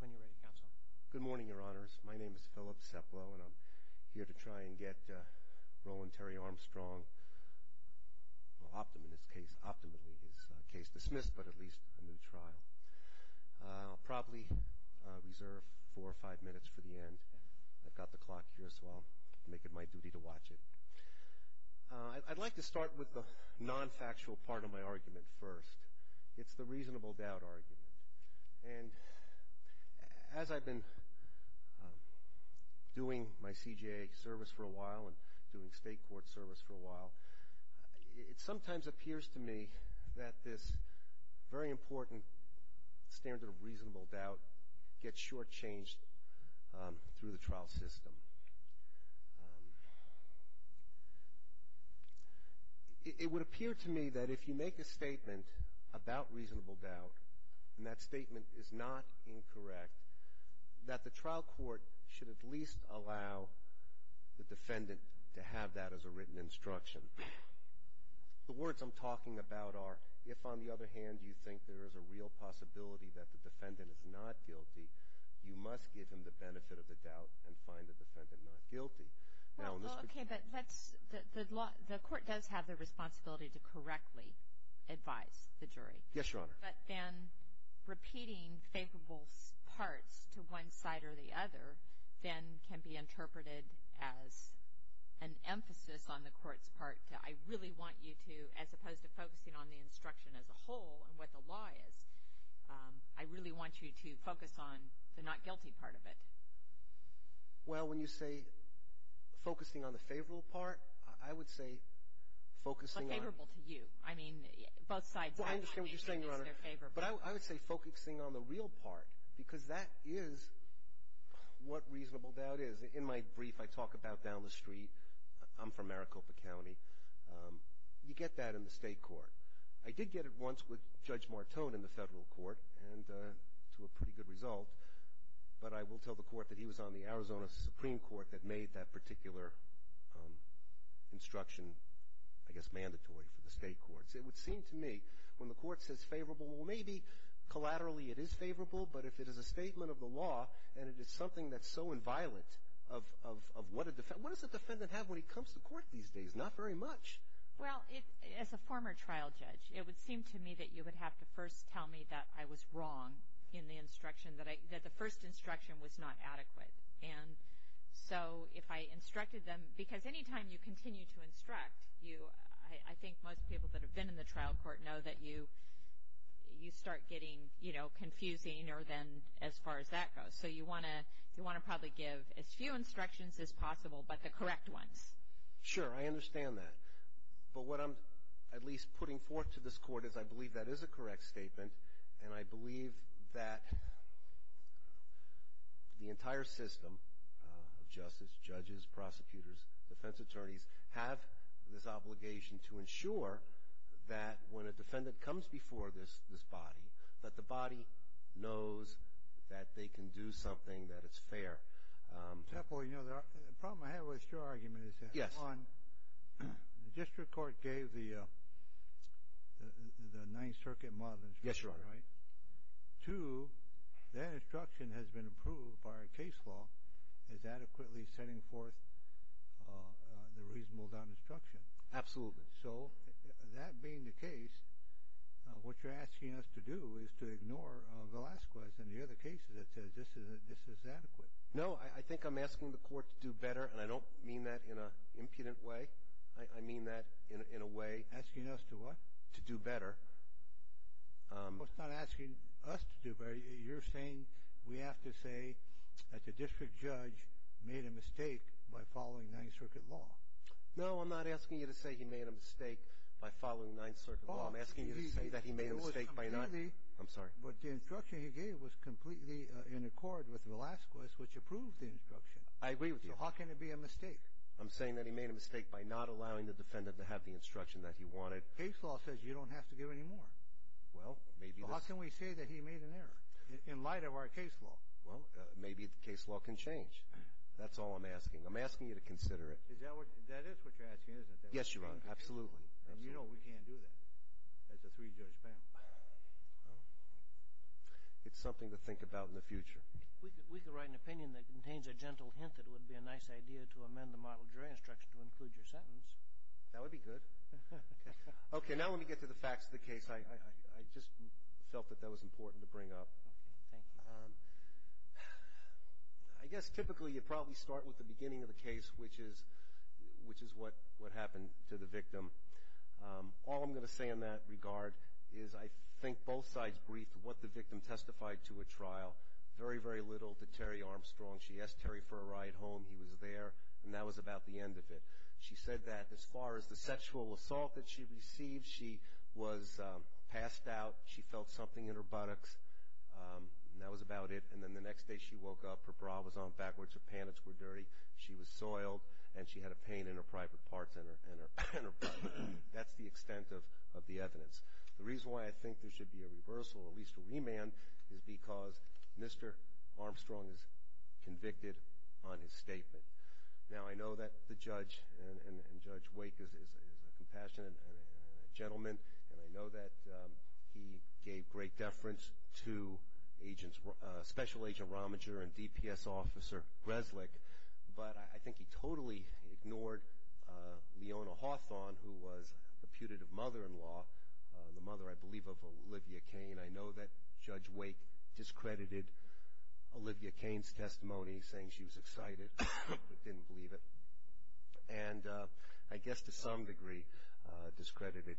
When you're ready, Counsel. Good morning, Your Honors. My name is Philip Seplow, and I'm here to try and get Roland Terry Armstrong, well, optimally his case dismissed, but at least a new trial. I'll probably reserve four or five minutes for the end. I've got the clock here, so I'll make it my duty to watch it. I'd like to start with the non-factual part of my argument first. It's the reasonable doubt argument. And as I've been doing my CJA service for a while and doing state court service for a while, it sometimes appears to me that this very important standard of reasonable doubt gets shortchanged through the trial system. It would appear to me that if you make a statement about reasonable doubt, and that statement is not incorrect, that the trial court should at least allow the defendant to have that as a written instruction. The words I'm talking about are, if on the other hand you think there is a real possibility that the defendant is not guilty, you must give him the benefit of the doubt and find the defendant not guilty. Well, okay, but the court does have the responsibility to correctly advise the jury. Yes, Your Honor. But then repeating favorable parts to one side or the other then can be interpreted as an emphasis on the court's part. I really want you to, as opposed to focusing on the instruction as a whole and what the law is, I really want you to focus on the not guilty part of it. Well, when you say focusing on the favorable part, I would say focusing on the real part, because that is what reasonable doubt is. In my brief, I talk about down the street. I'm from Maricopa County. You get that in the state court. I did get it once with Judge Martone in the federal court and to a pretty good result. But I will tell the court that he was on the Arizona Supreme Court that made that particular instruction, I guess, mandatory for the state courts. It would seem to me when the court says favorable, well, maybe collaterally it is favorable, but if it is a statement of the law and it is something that's so inviolate of what a defendant, what does a defendant have when he comes to court these days? Not very much. Well, as a former trial judge, it would seem to me that you would have to first tell me that I was wrong in the instruction, that the first instruction was not adequate. And so if I instructed them, because any time you continue to instruct, I think most people that have been in the trial court know that you start getting confusing as far as that goes. So you want to probably give as few instructions as possible but the correct ones. Sure, I understand that. But what I'm at least putting forth to this court is I believe that is a correct statement and I believe that the entire system of justice, judges, prosecutors, defense attorneys, have this obligation to ensure that when a defendant comes before this body, that the body knows that they can do something, that it's fair. The problem I have with your argument is that, one, the district court gave the Ninth Circuit model instruction, right? Yes, Your Honor. Two, that instruction has been approved by our case law as adequately setting forth the reasonable doubt instruction. Absolutely. So that being the case, what you're asking us to do is to ignore Velazquez and the other cases that says this is adequate. No, I think I'm asking the court to do better and I don't mean that in an impudent way. I mean that in a way. Asking us to what? To do better. Well, it's not asking us to do better. You're saying we have to say that the district judge made a mistake by following Ninth Circuit law. No, I'm not asking you to say he made a mistake by following Ninth Circuit law. I'm asking you to say that he made a mistake by not. I'm sorry. The instruction he gave was completely in accord with Velazquez, which approved the instruction. I agree with you. So how can it be a mistake? I'm saying that he made a mistake by not allowing the defendant to have the instruction that he wanted. Case law says you don't have to give any more. Well, maybe. How can we say that he made an error in light of our case law? Well, maybe the case law can change. That's all I'm asking. I'm asking you to consider it. That is what you're asking, isn't it? Yes, Your Honor. Absolutely. And you know we can't do that as a three-judge panel. It's something to think about in the future. We could write an opinion that contains a gentle hint that it would be a nice idea to amend the model jury instruction to include your sentence. That would be good. Okay, now let me get to the facts of the case. I just felt that that was important to bring up. Okay, thank you. I guess typically you probably start with the beginning of the case, which is what happened to the victim. All I'm going to say in that regard is I think both sides briefed what the victim testified to at trial. Very, very little to Terry Armstrong. She asked Terry for a ride home. He was there, and that was about the end of it. She said that as far as the sexual assault that she received, she was passed out. She felt something in her buttocks. That was about it. And then the next day she woke up, her bra was on backwards, her pants were dirty, she was soiled, and she had a pain in her private parts and her butt. That's the extent of the evidence. The reason why I think there should be a reversal, at least a remand, is because Mr. Armstrong is convicted on his statement. Now, I know that the judge and Judge Wake is a compassionate gentleman, and I know that he gave great deference to Special Agent Romager and DPS Officer Resnick, but I think he totally ignored Leona Hawthorne, who was reputed of mother-in-law, the mother, I believe, of Olivia Cain. I know that Judge Wake discredited Olivia Cain's testimony, saying she was excited but didn't believe it, and I guess to some degree discredited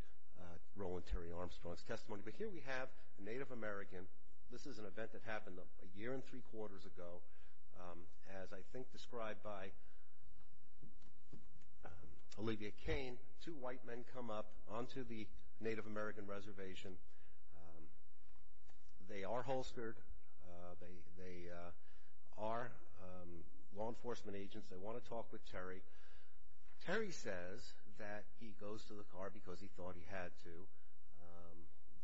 Roland Terry Armstrong's testimony. But here we have a Native American. This is an event that happened a year and three quarters ago. As I think described by Olivia Cain, two white men come up onto the Native American reservation. They are holstered. They are law enforcement agents. They want to talk with Terry. Terry says that he goes to the car because he thought he had to.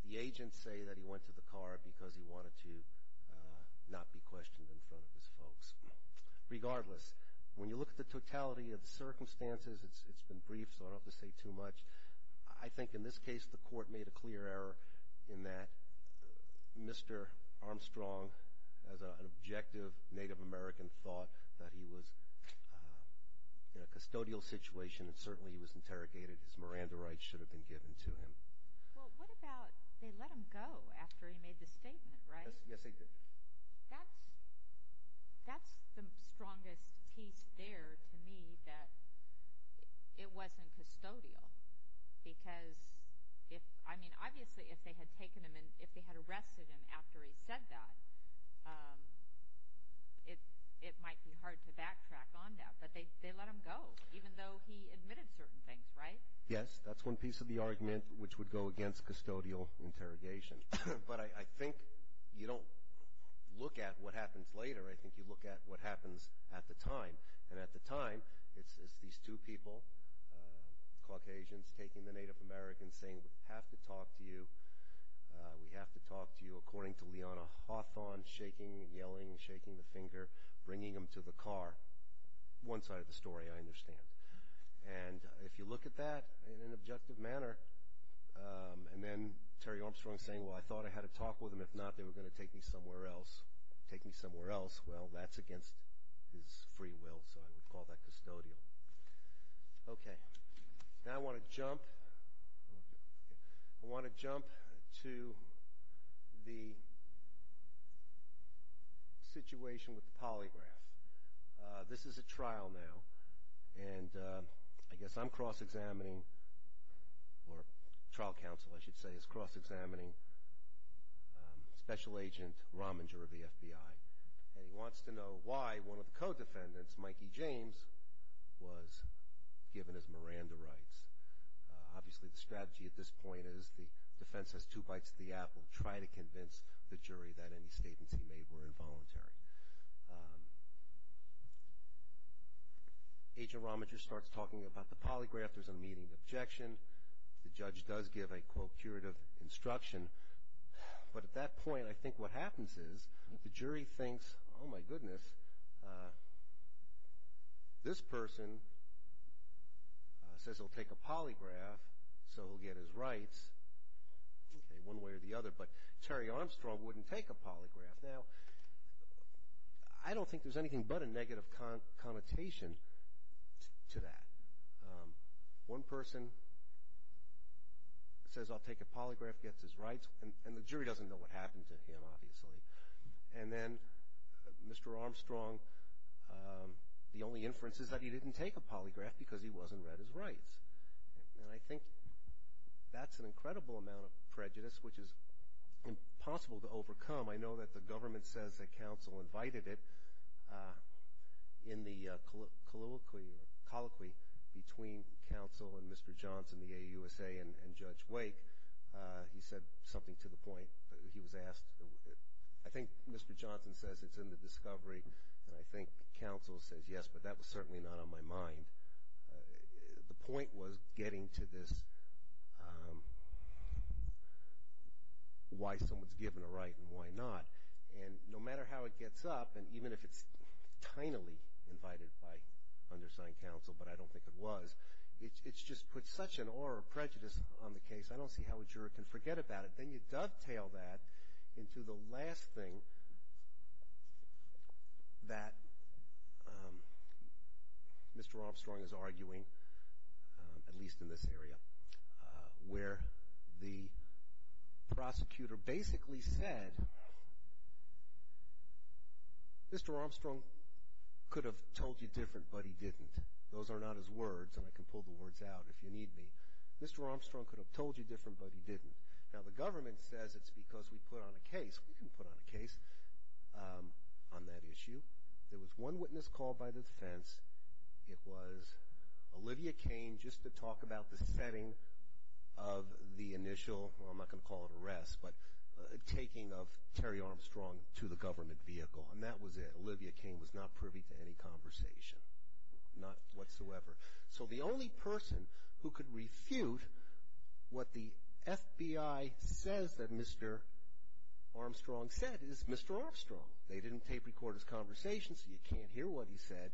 The agents say that he went to the car because he wanted to not be questioned in front of his folks. Regardless, when you look at the totality of the circumstances, it's been brief, so I don't have to say too much. I think in this case the court made a clear error in that Mr. Armstrong, as an objective Native American, thought that he was in a custodial situation and certainly he was interrogated. His Miranda rights should have been given to him. Well, what about they let him go after he made the statement, right? Yes, they did. That's the strongest piece there to me, that it wasn't custodial. Because if, I mean, obviously if they had taken him and if they had arrested him after he said that, it might be hard to backtrack on that. But they let him go, even though he admitted certain things, right? Yes, that's one piece of the argument which would go against custodial interrogation. But I think you don't look at what happens later. I think you look at what happens at the time. And at the time, it's these two people, Caucasians taking the Native Americans, saying, We have to talk to you. We have to talk to you, according to Liana Hawthorne, shaking and yelling, shaking the finger, bringing him to the car. One side of the story, I understand. And if you look at that in an objective manner, and then Terry Armstrong saying, Well, I thought I had a talk with him. If not, they were going to take me somewhere else, take me somewhere else. Well, that's against his free will, so I would call that custodial. Okay. Now I want to jump to the situation with the polygraph. This is a trial now, and I guess I'm cross-examining, or trial counsel, I should say, is cross-examining Special Agent Rominger of the FBI. And he wants to know why one of the co-defendants, Mikey James, was given his Miranda rights. Obviously, the strategy at this point is the defense has two bites of the apple, and will try to convince the jury that any statements he made were involuntary. Agent Rominger starts talking about the polygraph. There's a meeting objection. The judge does give a, quote, curative instruction. But at that point, I think what happens is the jury thinks, Oh, my goodness, this person says he'll take a polygraph, so he'll get his rights. Okay, one way or the other. But Terry Armstrong wouldn't take a polygraph. Now, I don't think there's anything but a negative connotation to that. One person says I'll take a polygraph, gets his rights, and the jury doesn't know what happened to him, obviously. And then Mr. Armstrong, the only inference is that he didn't take a polygraph because he wasn't read his rights. And I think that's an incredible amount of prejudice, which is impossible to overcome. I know that the government says that counsel invited it. In the colloquy between counsel and Mr. Johnson, the AUSA, and Judge Wake, he said something to the point. He was asked, I think Mr. Johnson says it's in the discovery, and I think counsel says yes, but that was certainly not on my mind. The point was getting to this why someone's given a right and why not. And no matter how it gets up, and even if it's tinily invited by undersigned counsel, but I don't think it was, it's just put such an aura of prejudice on the case, I don't see how a juror can forget about it. Then you dovetail that into the last thing that Mr. Armstrong is arguing, at least in this area, where the prosecutor basically said Mr. Armstrong could have told you different, but he didn't. Those are not his words, and I can pull the words out if you need me. Mr. Armstrong could have told you different, but he didn't. Now, the government says it's because we put on a case. We didn't put on a case on that issue. There was one witness called by the defense. It was Olivia Cain, just to talk about the setting of the initial, well, I'm not going to call it arrest, but taking of Terry Armstrong to the government vehicle, and that was it. Olivia Cain was not privy to any conversation, not whatsoever. So the only person who could refute what the FBI says that Mr. Armstrong said is Mr. Armstrong. They didn't tape record his conversation, so you can't hear what he said,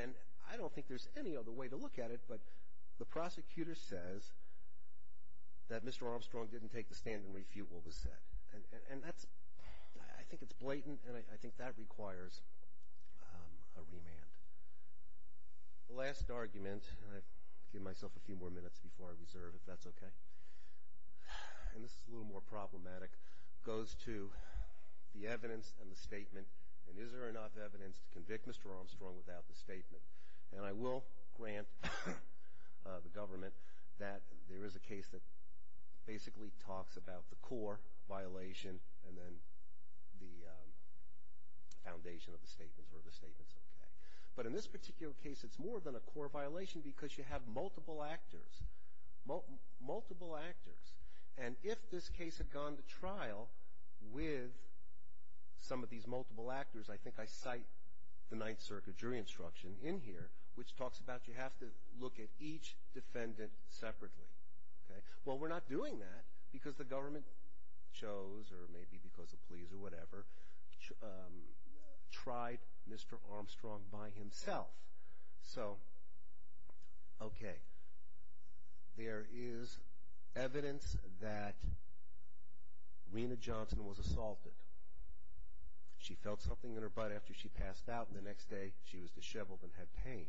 and I don't think there's any other way to look at it, but the prosecutor says that Mr. Armstrong didn't take the stand and refute what was said, and that's, I think it's blatant, and I think that requires a remand. The last argument, and I've given myself a few more minutes before I reserve, if that's okay, and this is a little more problematic, goes to the evidence and the statement, and is there enough evidence to convict Mr. Armstrong without the statement? And I will grant the government that there is a case that basically talks about the core violation and then the foundation of the statements, where the statement's okay. But in this particular case, it's more than a core violation because you have multiple actors, multiple actors, and if this case had gone to trial with some of these multiple actors, I think I cite the Ninth Circuit jury instruction in here, which talks about you have to look at each defendant separately. Well, we're not doing that because the government chose, or maybe because the police or whatever, tried Mr. Armstrong by himself. So, okay, there is evidence that Rena Johnson was assaulted. She felt something in her butt after she passed out, and the next day she was disheveled and had pain.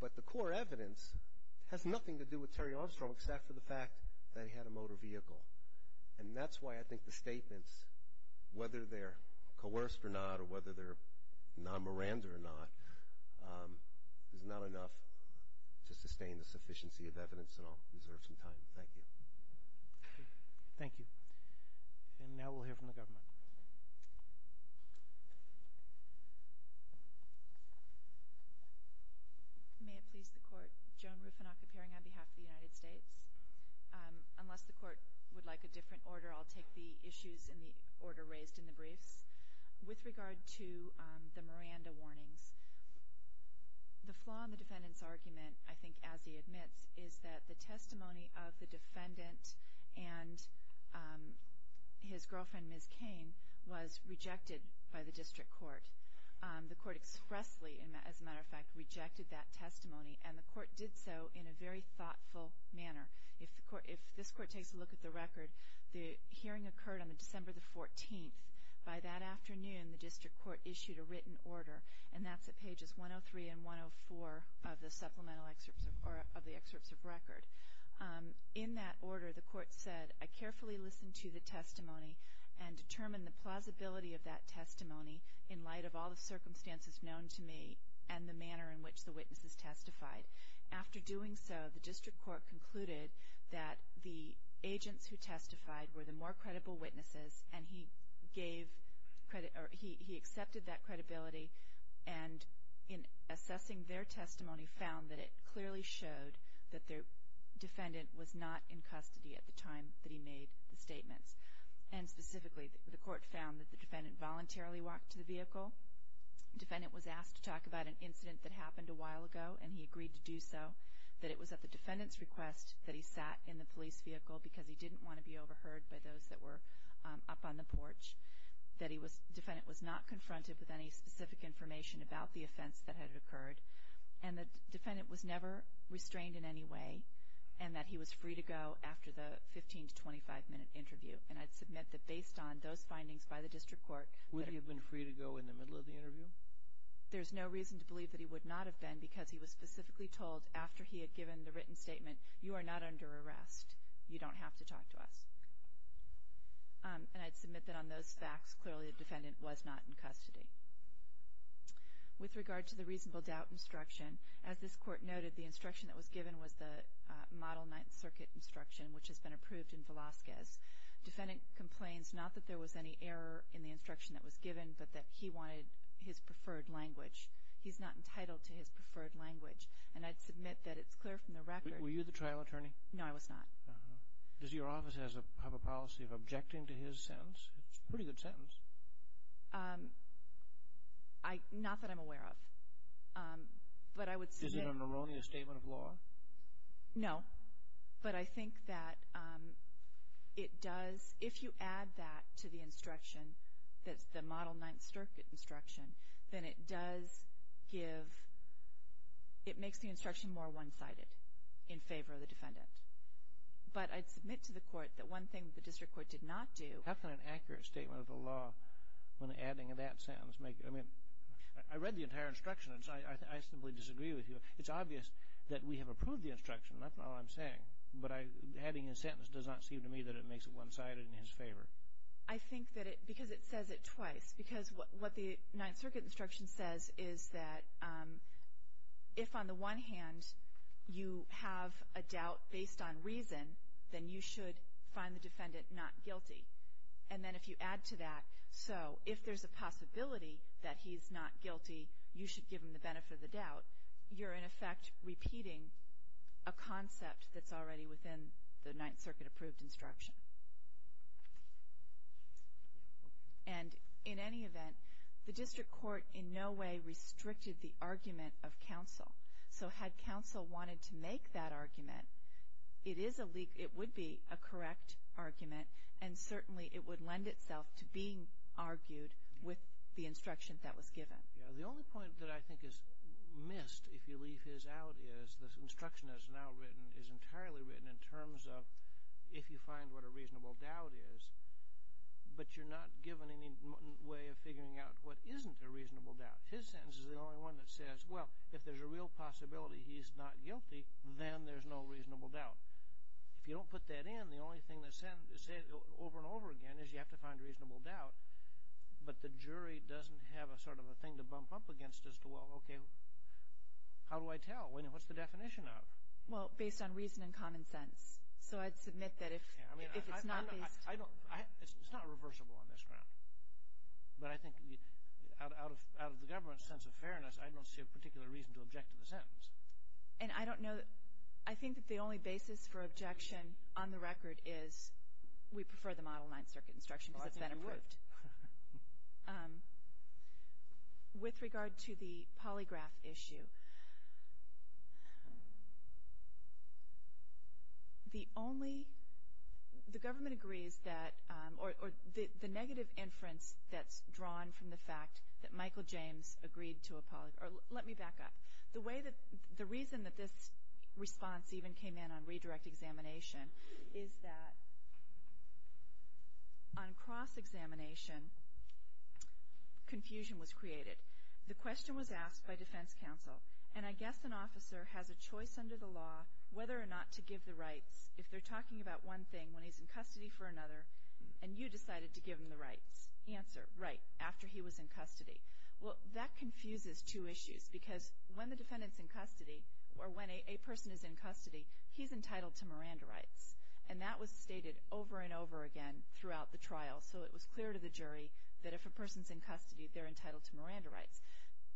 But the core evidence has nothing to do with Terry Armstrong except for the fact that he had a motor vehicle, and that's why I think the statements, whether they're coerced or not or whether they're non-Miranda or not, is not enough to sustain the sufficiency of evidence, and I'll reserve some time. Thank you. Thank you. And now we'll hear from the government. May it please the Court, Joan Rufinock, appearing on behalf of the United States. Unless the Court would like a different order, I'll take the issues in the order raised in the briefs. With regard to the Miranda warnings, the flaw in the defendant's argument, I think, as he admits, is that the testimony of the defendant and his girlfriend, Ms. Cain, was rejected by the district court. The court expressly, as a matter of fact, rejected that testimony, and the court did so in a very thoughtful manner. If this court takes a look at the record, the hearing occurred on December the 14th. By that afternoon, the district court issued a written order, and that's at pages 103 and 104 of the supplemental excerpts or of the excerpts of record. In that order, the court said, I carefully listened to the testimony and determined the plausibility of that testimony in light of all the circumstances known to me and the manner in which the witnesses testified. After doing so, the district court concluded that the agents who testified were the more credible witnesses, and he accepted that credibility, and in assessing their testimony, found that it clearly showed that the defendant was not in custody at the time that he made the statements. And specifically, the court found that the defendant voluntarily walked to the vehicle. The defendant was asked to talk about an incident that happened a while ago, and he agreed to do so. That it was at the defendant's request that he sat in the police vehicle because he didn't want to be overheard by those that were up on the porch, that the defendant was not confronted with any specific information about the offense that had occurred, and that the defendant was never restrained in any way, and that he was free to go after the 15- to 25-minute interview. And I'd submit that based on those findings by the district court, Would he have been free to go in the middle of the interview? There's no reason to believe that he would not have been because he was specifically told after he had given the written statement, You are not under arrest. You don't have to talk to us. And I'd submit that on those facts, clearly the defendant was not in custody. With regard to the reasonable doubt instruction, as this court noted, the instruction that was given was the Model Ninth Circuit instruction, which has been approved in Velazquez. Defendant complains not that there was any error in the instruction that was given, but that he wanted his preferred language. He's not entitled to his preferred language, and I'd submit that it's clear from the record Were you the trial attorney? No, I was not. Does your office have a policy of objecting to his sentence? It's a pretty good sentence. Not that I'm aware of. But I would submit Is it an erroneous statement of law? No. But I think that it does, if you add that to the instruction, that's the Model Ninth Circuit instruction, then it does give, it makes the instruction more one-sided in favor of the defendant. But I'd submit to the court that one thing the district court did not do How can an accurate statement of the law, when adding that sentence, make it, I mean, I read the entire instruction, and I simply disagree with you. It's obvious that we have approved the instruction. That's all I'm saying. But adding a sentence does not seem to me that it makes it one-sided in his favor. I think that it, because it says it twice. Because what the Ninth Circuit instruction says is that if, on the one hand, you have a doubt based on reason, then you should find the defendant not guilty. And then if you add to that, so if there's a possibility that he's not guilty, you're, in effect, repeating a concept that's already within the Ninth Circuit-approved instruction. And in any event, the district court in no way restricted the argument of counsel. So had counsel wanted to make that argument, it would be a correct argument, and certainly it would lend itself to being argued with the instruction that was given. The only point that I think is missed, if you leave his out, is the instruction that's now written is entirely written in terms of if you find what a reasonable doubt is, but you're not given any way of figuring out what isn't a reasonable doubt. His sentence is the only one that says, well, if there's a real possibility he's not guilty, then there's no reasonable doubt. If you don't put that in, the only thing that's said over and over again is you have to find a reasonable doubt. But the jury doesn't have a sort of a thing to bump up against as to, well, okay, how do I tell? What's the definition of? Well, based on reason and common sense. So I'd submit that if it's not based. It's not reversible on this ground. But I think out of the government's sense of fairness, I don't see a particular reason to object to the sentence. And I don't know, I think that the only basis for objection on the record is we prefer the Model 9 circuit instruction because it's been approved. With regard to the polygraph issue, the only, the government agrees that, or the negative inference that's drawn from the fact that Michael James agreed to a polygraph, or let me back up. The way that, the reason that this response even came in on redirect examination is that on cross-examination, confusion was created. The question was asked by defense counsel, and I guess an officer has a choice under the law whether or not to give the rights if they're talking about one thing when he's in custody for another, and you decided to give him the rights. Answer, right, after he was in custody. Well, that confuses two issues because when the defendant's in custody, or when a person is in custody, he's entitled to Miranda rights. And that was stated over and over again throughout the trial. So it was clear to the jury that if a person's in custody, they're entitled to Miranda rights.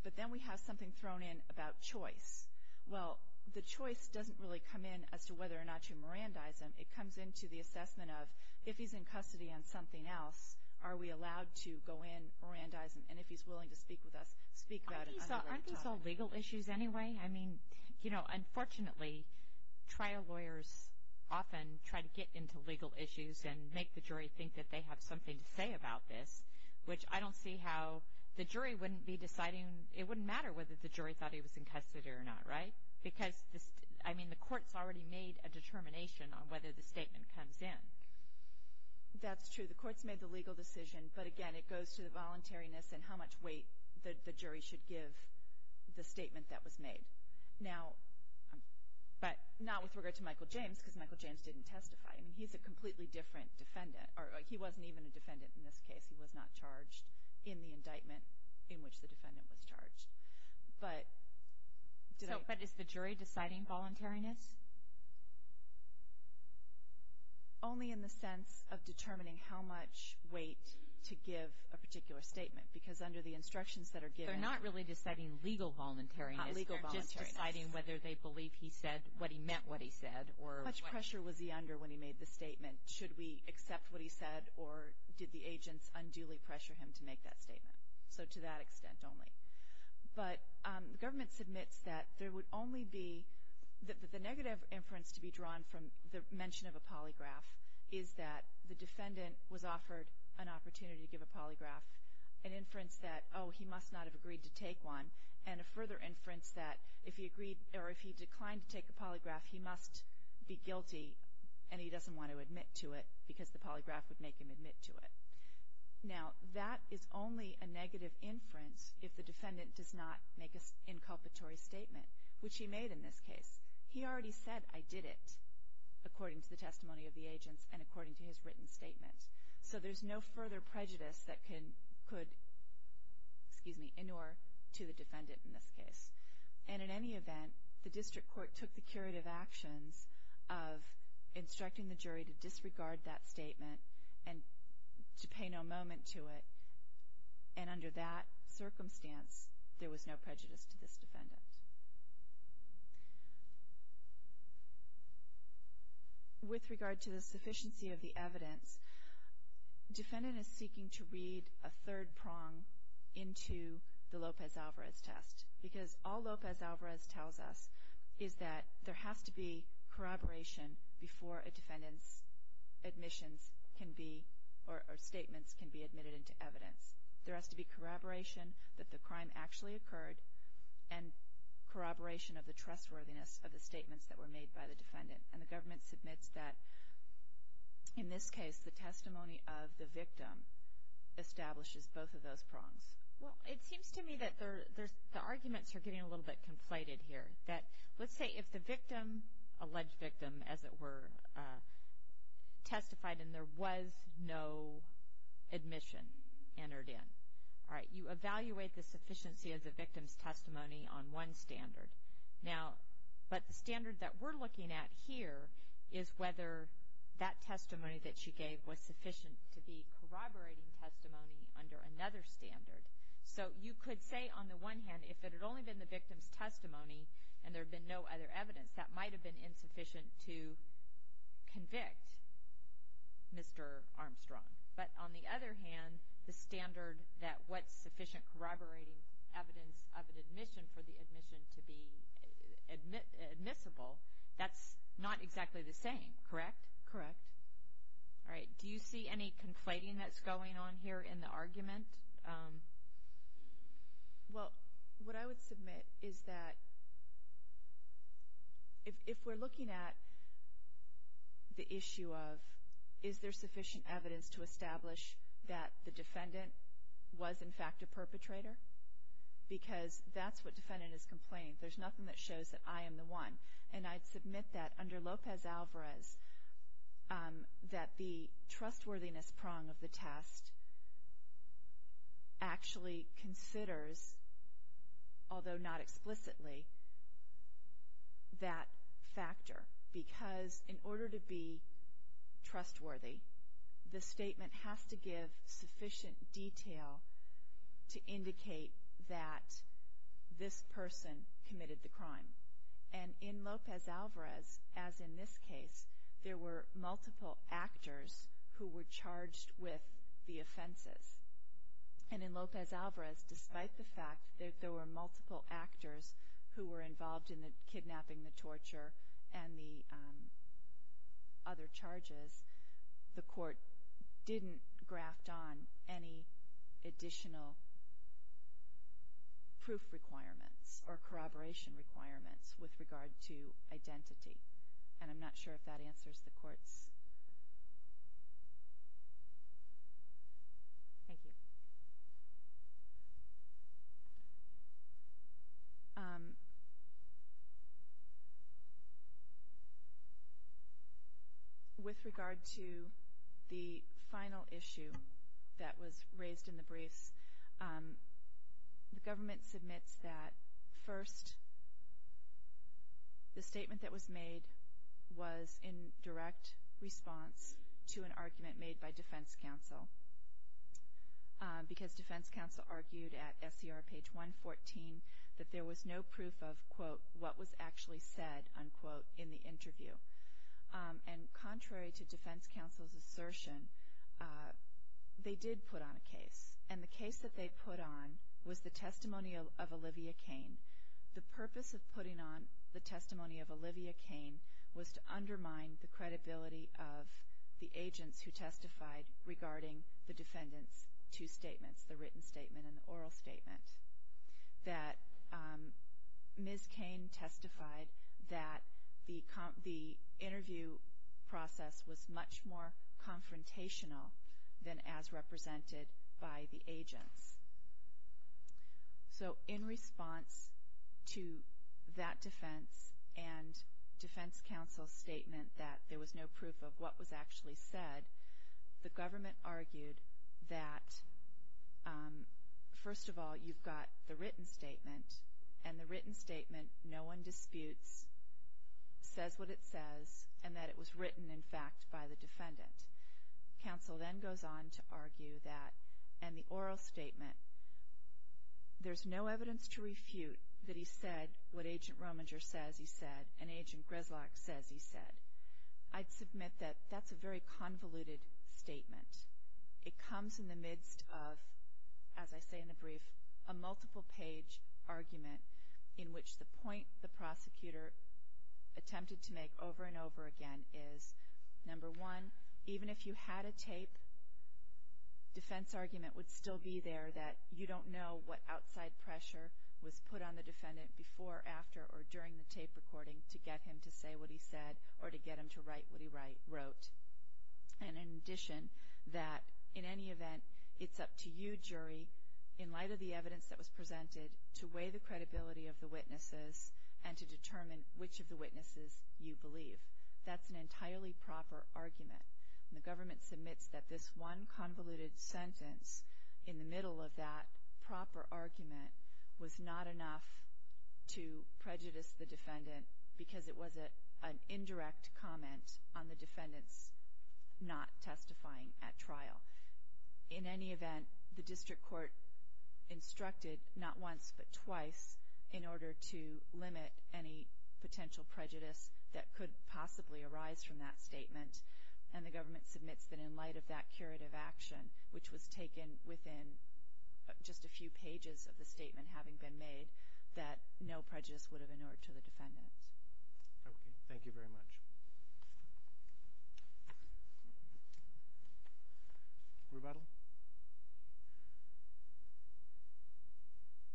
But then we have something thrown in about choice. Well, the choice doesn't really come in as to whether or not you Mirandize him. It comes into the assessment of if he's in custody on something else, are we allowed to go in Mirandize him? And if he's willing to speak with us, speak about it. Aren't these all legal issues anyway? I mean, you know, unfortunately, trial lawyers often try to get into legal issues and make the jury think that they have something to say about this, which I don't see how the jury wouldn't be deciding. It wouldn't matter whether the jury thought he was in custody or not, right? Because, I mean, the court's already made a determination on whether the statement comes in. That's true. The court's made the legal decision. But, again, it goes to the voluntariness and how much weight the jury should give the statement that was made. Now, but not with regard to Michael James, because Michael James didn't testify. I mean, he's a completely different defendant. Or he wasn't even a defendant in this case. He was not charged in the indictment in which the defendant was charged. But did I— So, but is the jury deciding voluntariness? Only in the sense of determining how much weight to give a particular statement. Because under the instructions that are given— They're not really deciding legal voluntariness. Not legal voluntariness. They're just deciding whether they believe he said what he meant what he said or what— How much pressure was he under when he made the statement? Should we accept what he said, or did the agents unduly pressure him to make that statement? So to that extent only. But the government submits that there would only be— The negative inference to be drawn from the mention of a polygraph is that the defendant was offered an opportunity to give a polygraph. An inference that, oh, he must not have agreed to take one. And a further inference that if he agreed or if he declined to take a polygraph, he must be guilty, and he doesn't want to admit to it because the polygraph would make him admit to it. Now, that is only a negative inference if the defendant does not make an inculpatory statement, which he made in this case. He already said, I did it, according to the testimony of the agents and according to his written statement. So there's no further prejudice that could, excuse me, inure to the defendant in this case. And in any event, the district court took the curative actions of instructing the jury to disregard that statement and to pay no moment to it. And under that circumstance, there was no prejudice to this defendant. With regard to the sufficiency of the evidence, defendant is seeking to read a third prong into the Lopez-Alvarez test. Because all Lopez-Alvarez tells us is that there has to be corroboration before a defendant's admissions can be or statements can be admitted into evidence. There has to be corroboration that the crime actually occurred and corroboration of the trustworthiness of the statements that were made by the defendant. And the government submits that, in this case, the testimony of the victim establishes both of those prongs. Well, it seems to me that the arguments are getting a little bit conflated here. That let's say if the victim, alleged victim, as it were, testified and there was no admission entered in. All right, you evaluate the sufficiency of the victim's testimony on one standard. Now, but the standard that we're looking at here is whether that testimony that she gave was sufficient to be corroborating testimony under another standard. So you could say, on the one hand, if it had only been the victim's testimony and there had been no other evidence, that might have been insufficient to convict Mr. Armstrong. But on the other hand, the standard that what's sufficient corroborating evidence of an admission for the admission to be admissible, Correct. Correct. All right, do you see any conflating that's going on here in the argument? Well, what I would submit is that if we're looking at the issue of is there sufficient evidence to establish that the defendant was, in fact, a perpetrator? Because that's what defendant is complaining. There's nothing that shows that I am the one. And I'd submit that under Lopez-Alvarez, that the trustworthiness prong of the test actually considers, although not explicitly, that factor. Because in order to be trustworthy, the statement has to give sufficient detail to indicate that this person committed the crime. And in Lopez-Alvarez, as in this case, there were multiple actors who were charged with the offenses. And in Lopez-Alvarez, despite the fact that there were multiple actors who were involved in the kidnapping, the torture, and the other charges, the court didn't graft on any additional proof requirements or corroboration requirements with regard to identity. And I'm not sure if that answers the court's. Thank you. With regard to the final issue that was raised in the briefs, the government submits that first the statement that was made was in direct response to an argument made by defense counsel. Because defense counsel argued at SCR page 114 that there was no proof of, quote, what was actually said, unquote, in the interview. And contrary to defense counsel's assertion, they did put on a case. And the case that they put on was the testimony of Olivia Cain. The purpose of putting on the testimony of Olivia Cain was to undermine the credibility of the agents who testified regarding the defendant's two statements, the written statement and the oral statement, that Ms. Cain testified that the interview process was much more confrontational than as represented by the agents. So in response to that defense and defense counsel's statement that there was no proof of what was actually said, the government argued that, first of all, you've got the written statement. And the written statement, no one disputes, says what it says, and that it was written, in fact, by the defendant. Counsel then goes on to argue that in the oral statement, there's no evidence to refute that he said what Agent Rominger says he said and Agent Grislock says he said. I'd submit that that's a very convoluted statement. It comes in the midst of, as I say in the brief, a multiple-page argument in which the point the prosecutor attempted to make over and over again is, number one, even if you had a tape, defense argument would still be there that you don't know what outside pressure was put on the defendant before, after or during the tape recording to get him to say what he said or to get him to write what he wrote. And in addition, that in any event, it's up to you, jury, in light of the evidence that was presented, to weigh the credibility of the witnesses and to determine which of the witnesses you believe. That's an entirely proper argument. And the government submits that this one convoluted sentence in the middle of that proper argument was not enough to prejudice the defendant because it was an indirect comment on the defendant's not testifying at trial. In any event, the district court instructed not once but twice in order to limit any potential prejudice that could possibly arise from that statement, and the government submits that in light of that curative action, which was taken within just a few pages of the statement having been made, that no prejudice would have inured to the defendant. Okay. Thank you very much. Rebuttal?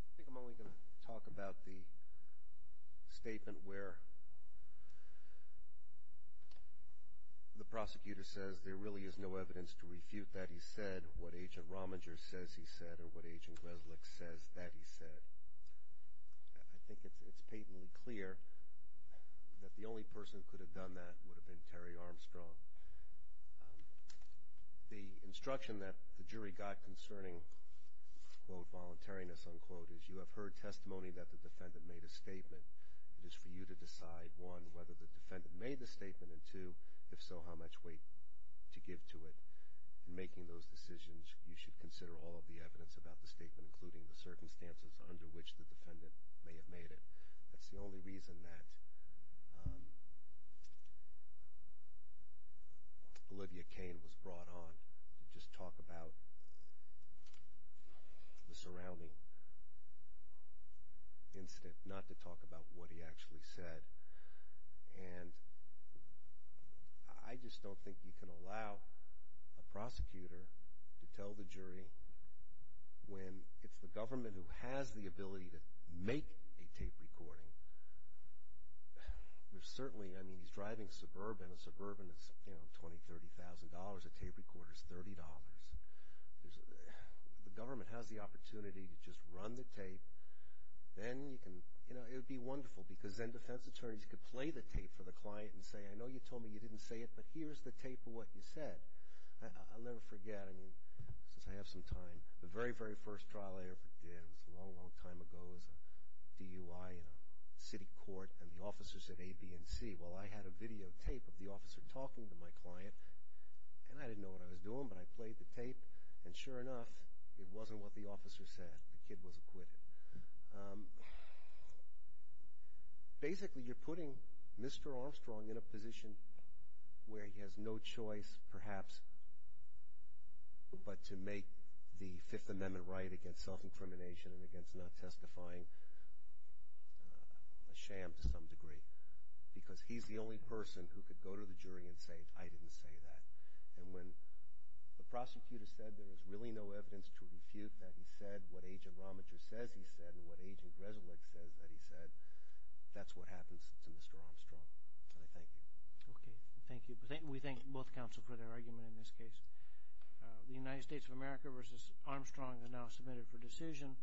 I think I'm only going to talk about the statement where the prosecutor says there really is no evidence to refute that he said what Agent Rominger says he said or what Agent Resnick says that he said. I think it's patently clear that the only person who could have done that would have been Terry Armstrong. The instruction that the jury got concerning, quote, voluntariness, unquote, is you have heard testimony that the defendant made a statement. It is for you to decide, one, whether the defendant made the statement, and two, if so, how much weight to give to it. In making those decisions, you should consider all of the evidence about the statement, including the circumstances under which the defendant may have made it. That's the only reason that Olivia Cain was brought on, to just talk about the surrounding incident, not to talk about what he actually said. And I just don't think you can allow a prosecutor to tell the jury when it's the government who has the ability to make a tape recording. There's certainly, I mean, he's driving suburban. A suburban is, you know, $20,000, $30,000. A tape recorder is $30. The government has the opportunity to just run the tape. Then you can, you know, it would be wonderful, because then defense attorneys could play the tape for the client and say, I know you told me you didn't say it, but here's the tape of what you said. I'll never forget, I mean, since I have some time, the very, very first trial I ever did, it was a long, long time ago, was a DUI in a city court, and the officer said A, B, and C. Well, I had a videotape of the officer talking to my client, and I didn't know what I was doing, but I played the tape, and sure enough, it wasn't what the officer said. The kid was acquitted. Basically, you're putting Mr. Armstrong in a position where he has no choice, perhaps, but to make the Fifth Amendment right against self-incrimination and against not testifying a sham to some degree, because he's the only person who could go to the jury and say, I didn't say that. And when the prosecutor said there was really no evidence to refute that he said what Agent Romacher says he said and what Agent Greselich says that he said, that's what happens to Mr. Armstrong, and I thank you. Okay, thank you. We thank both counsel for their argument in this case. The United States of America v. Armstrong is now submitted for decision.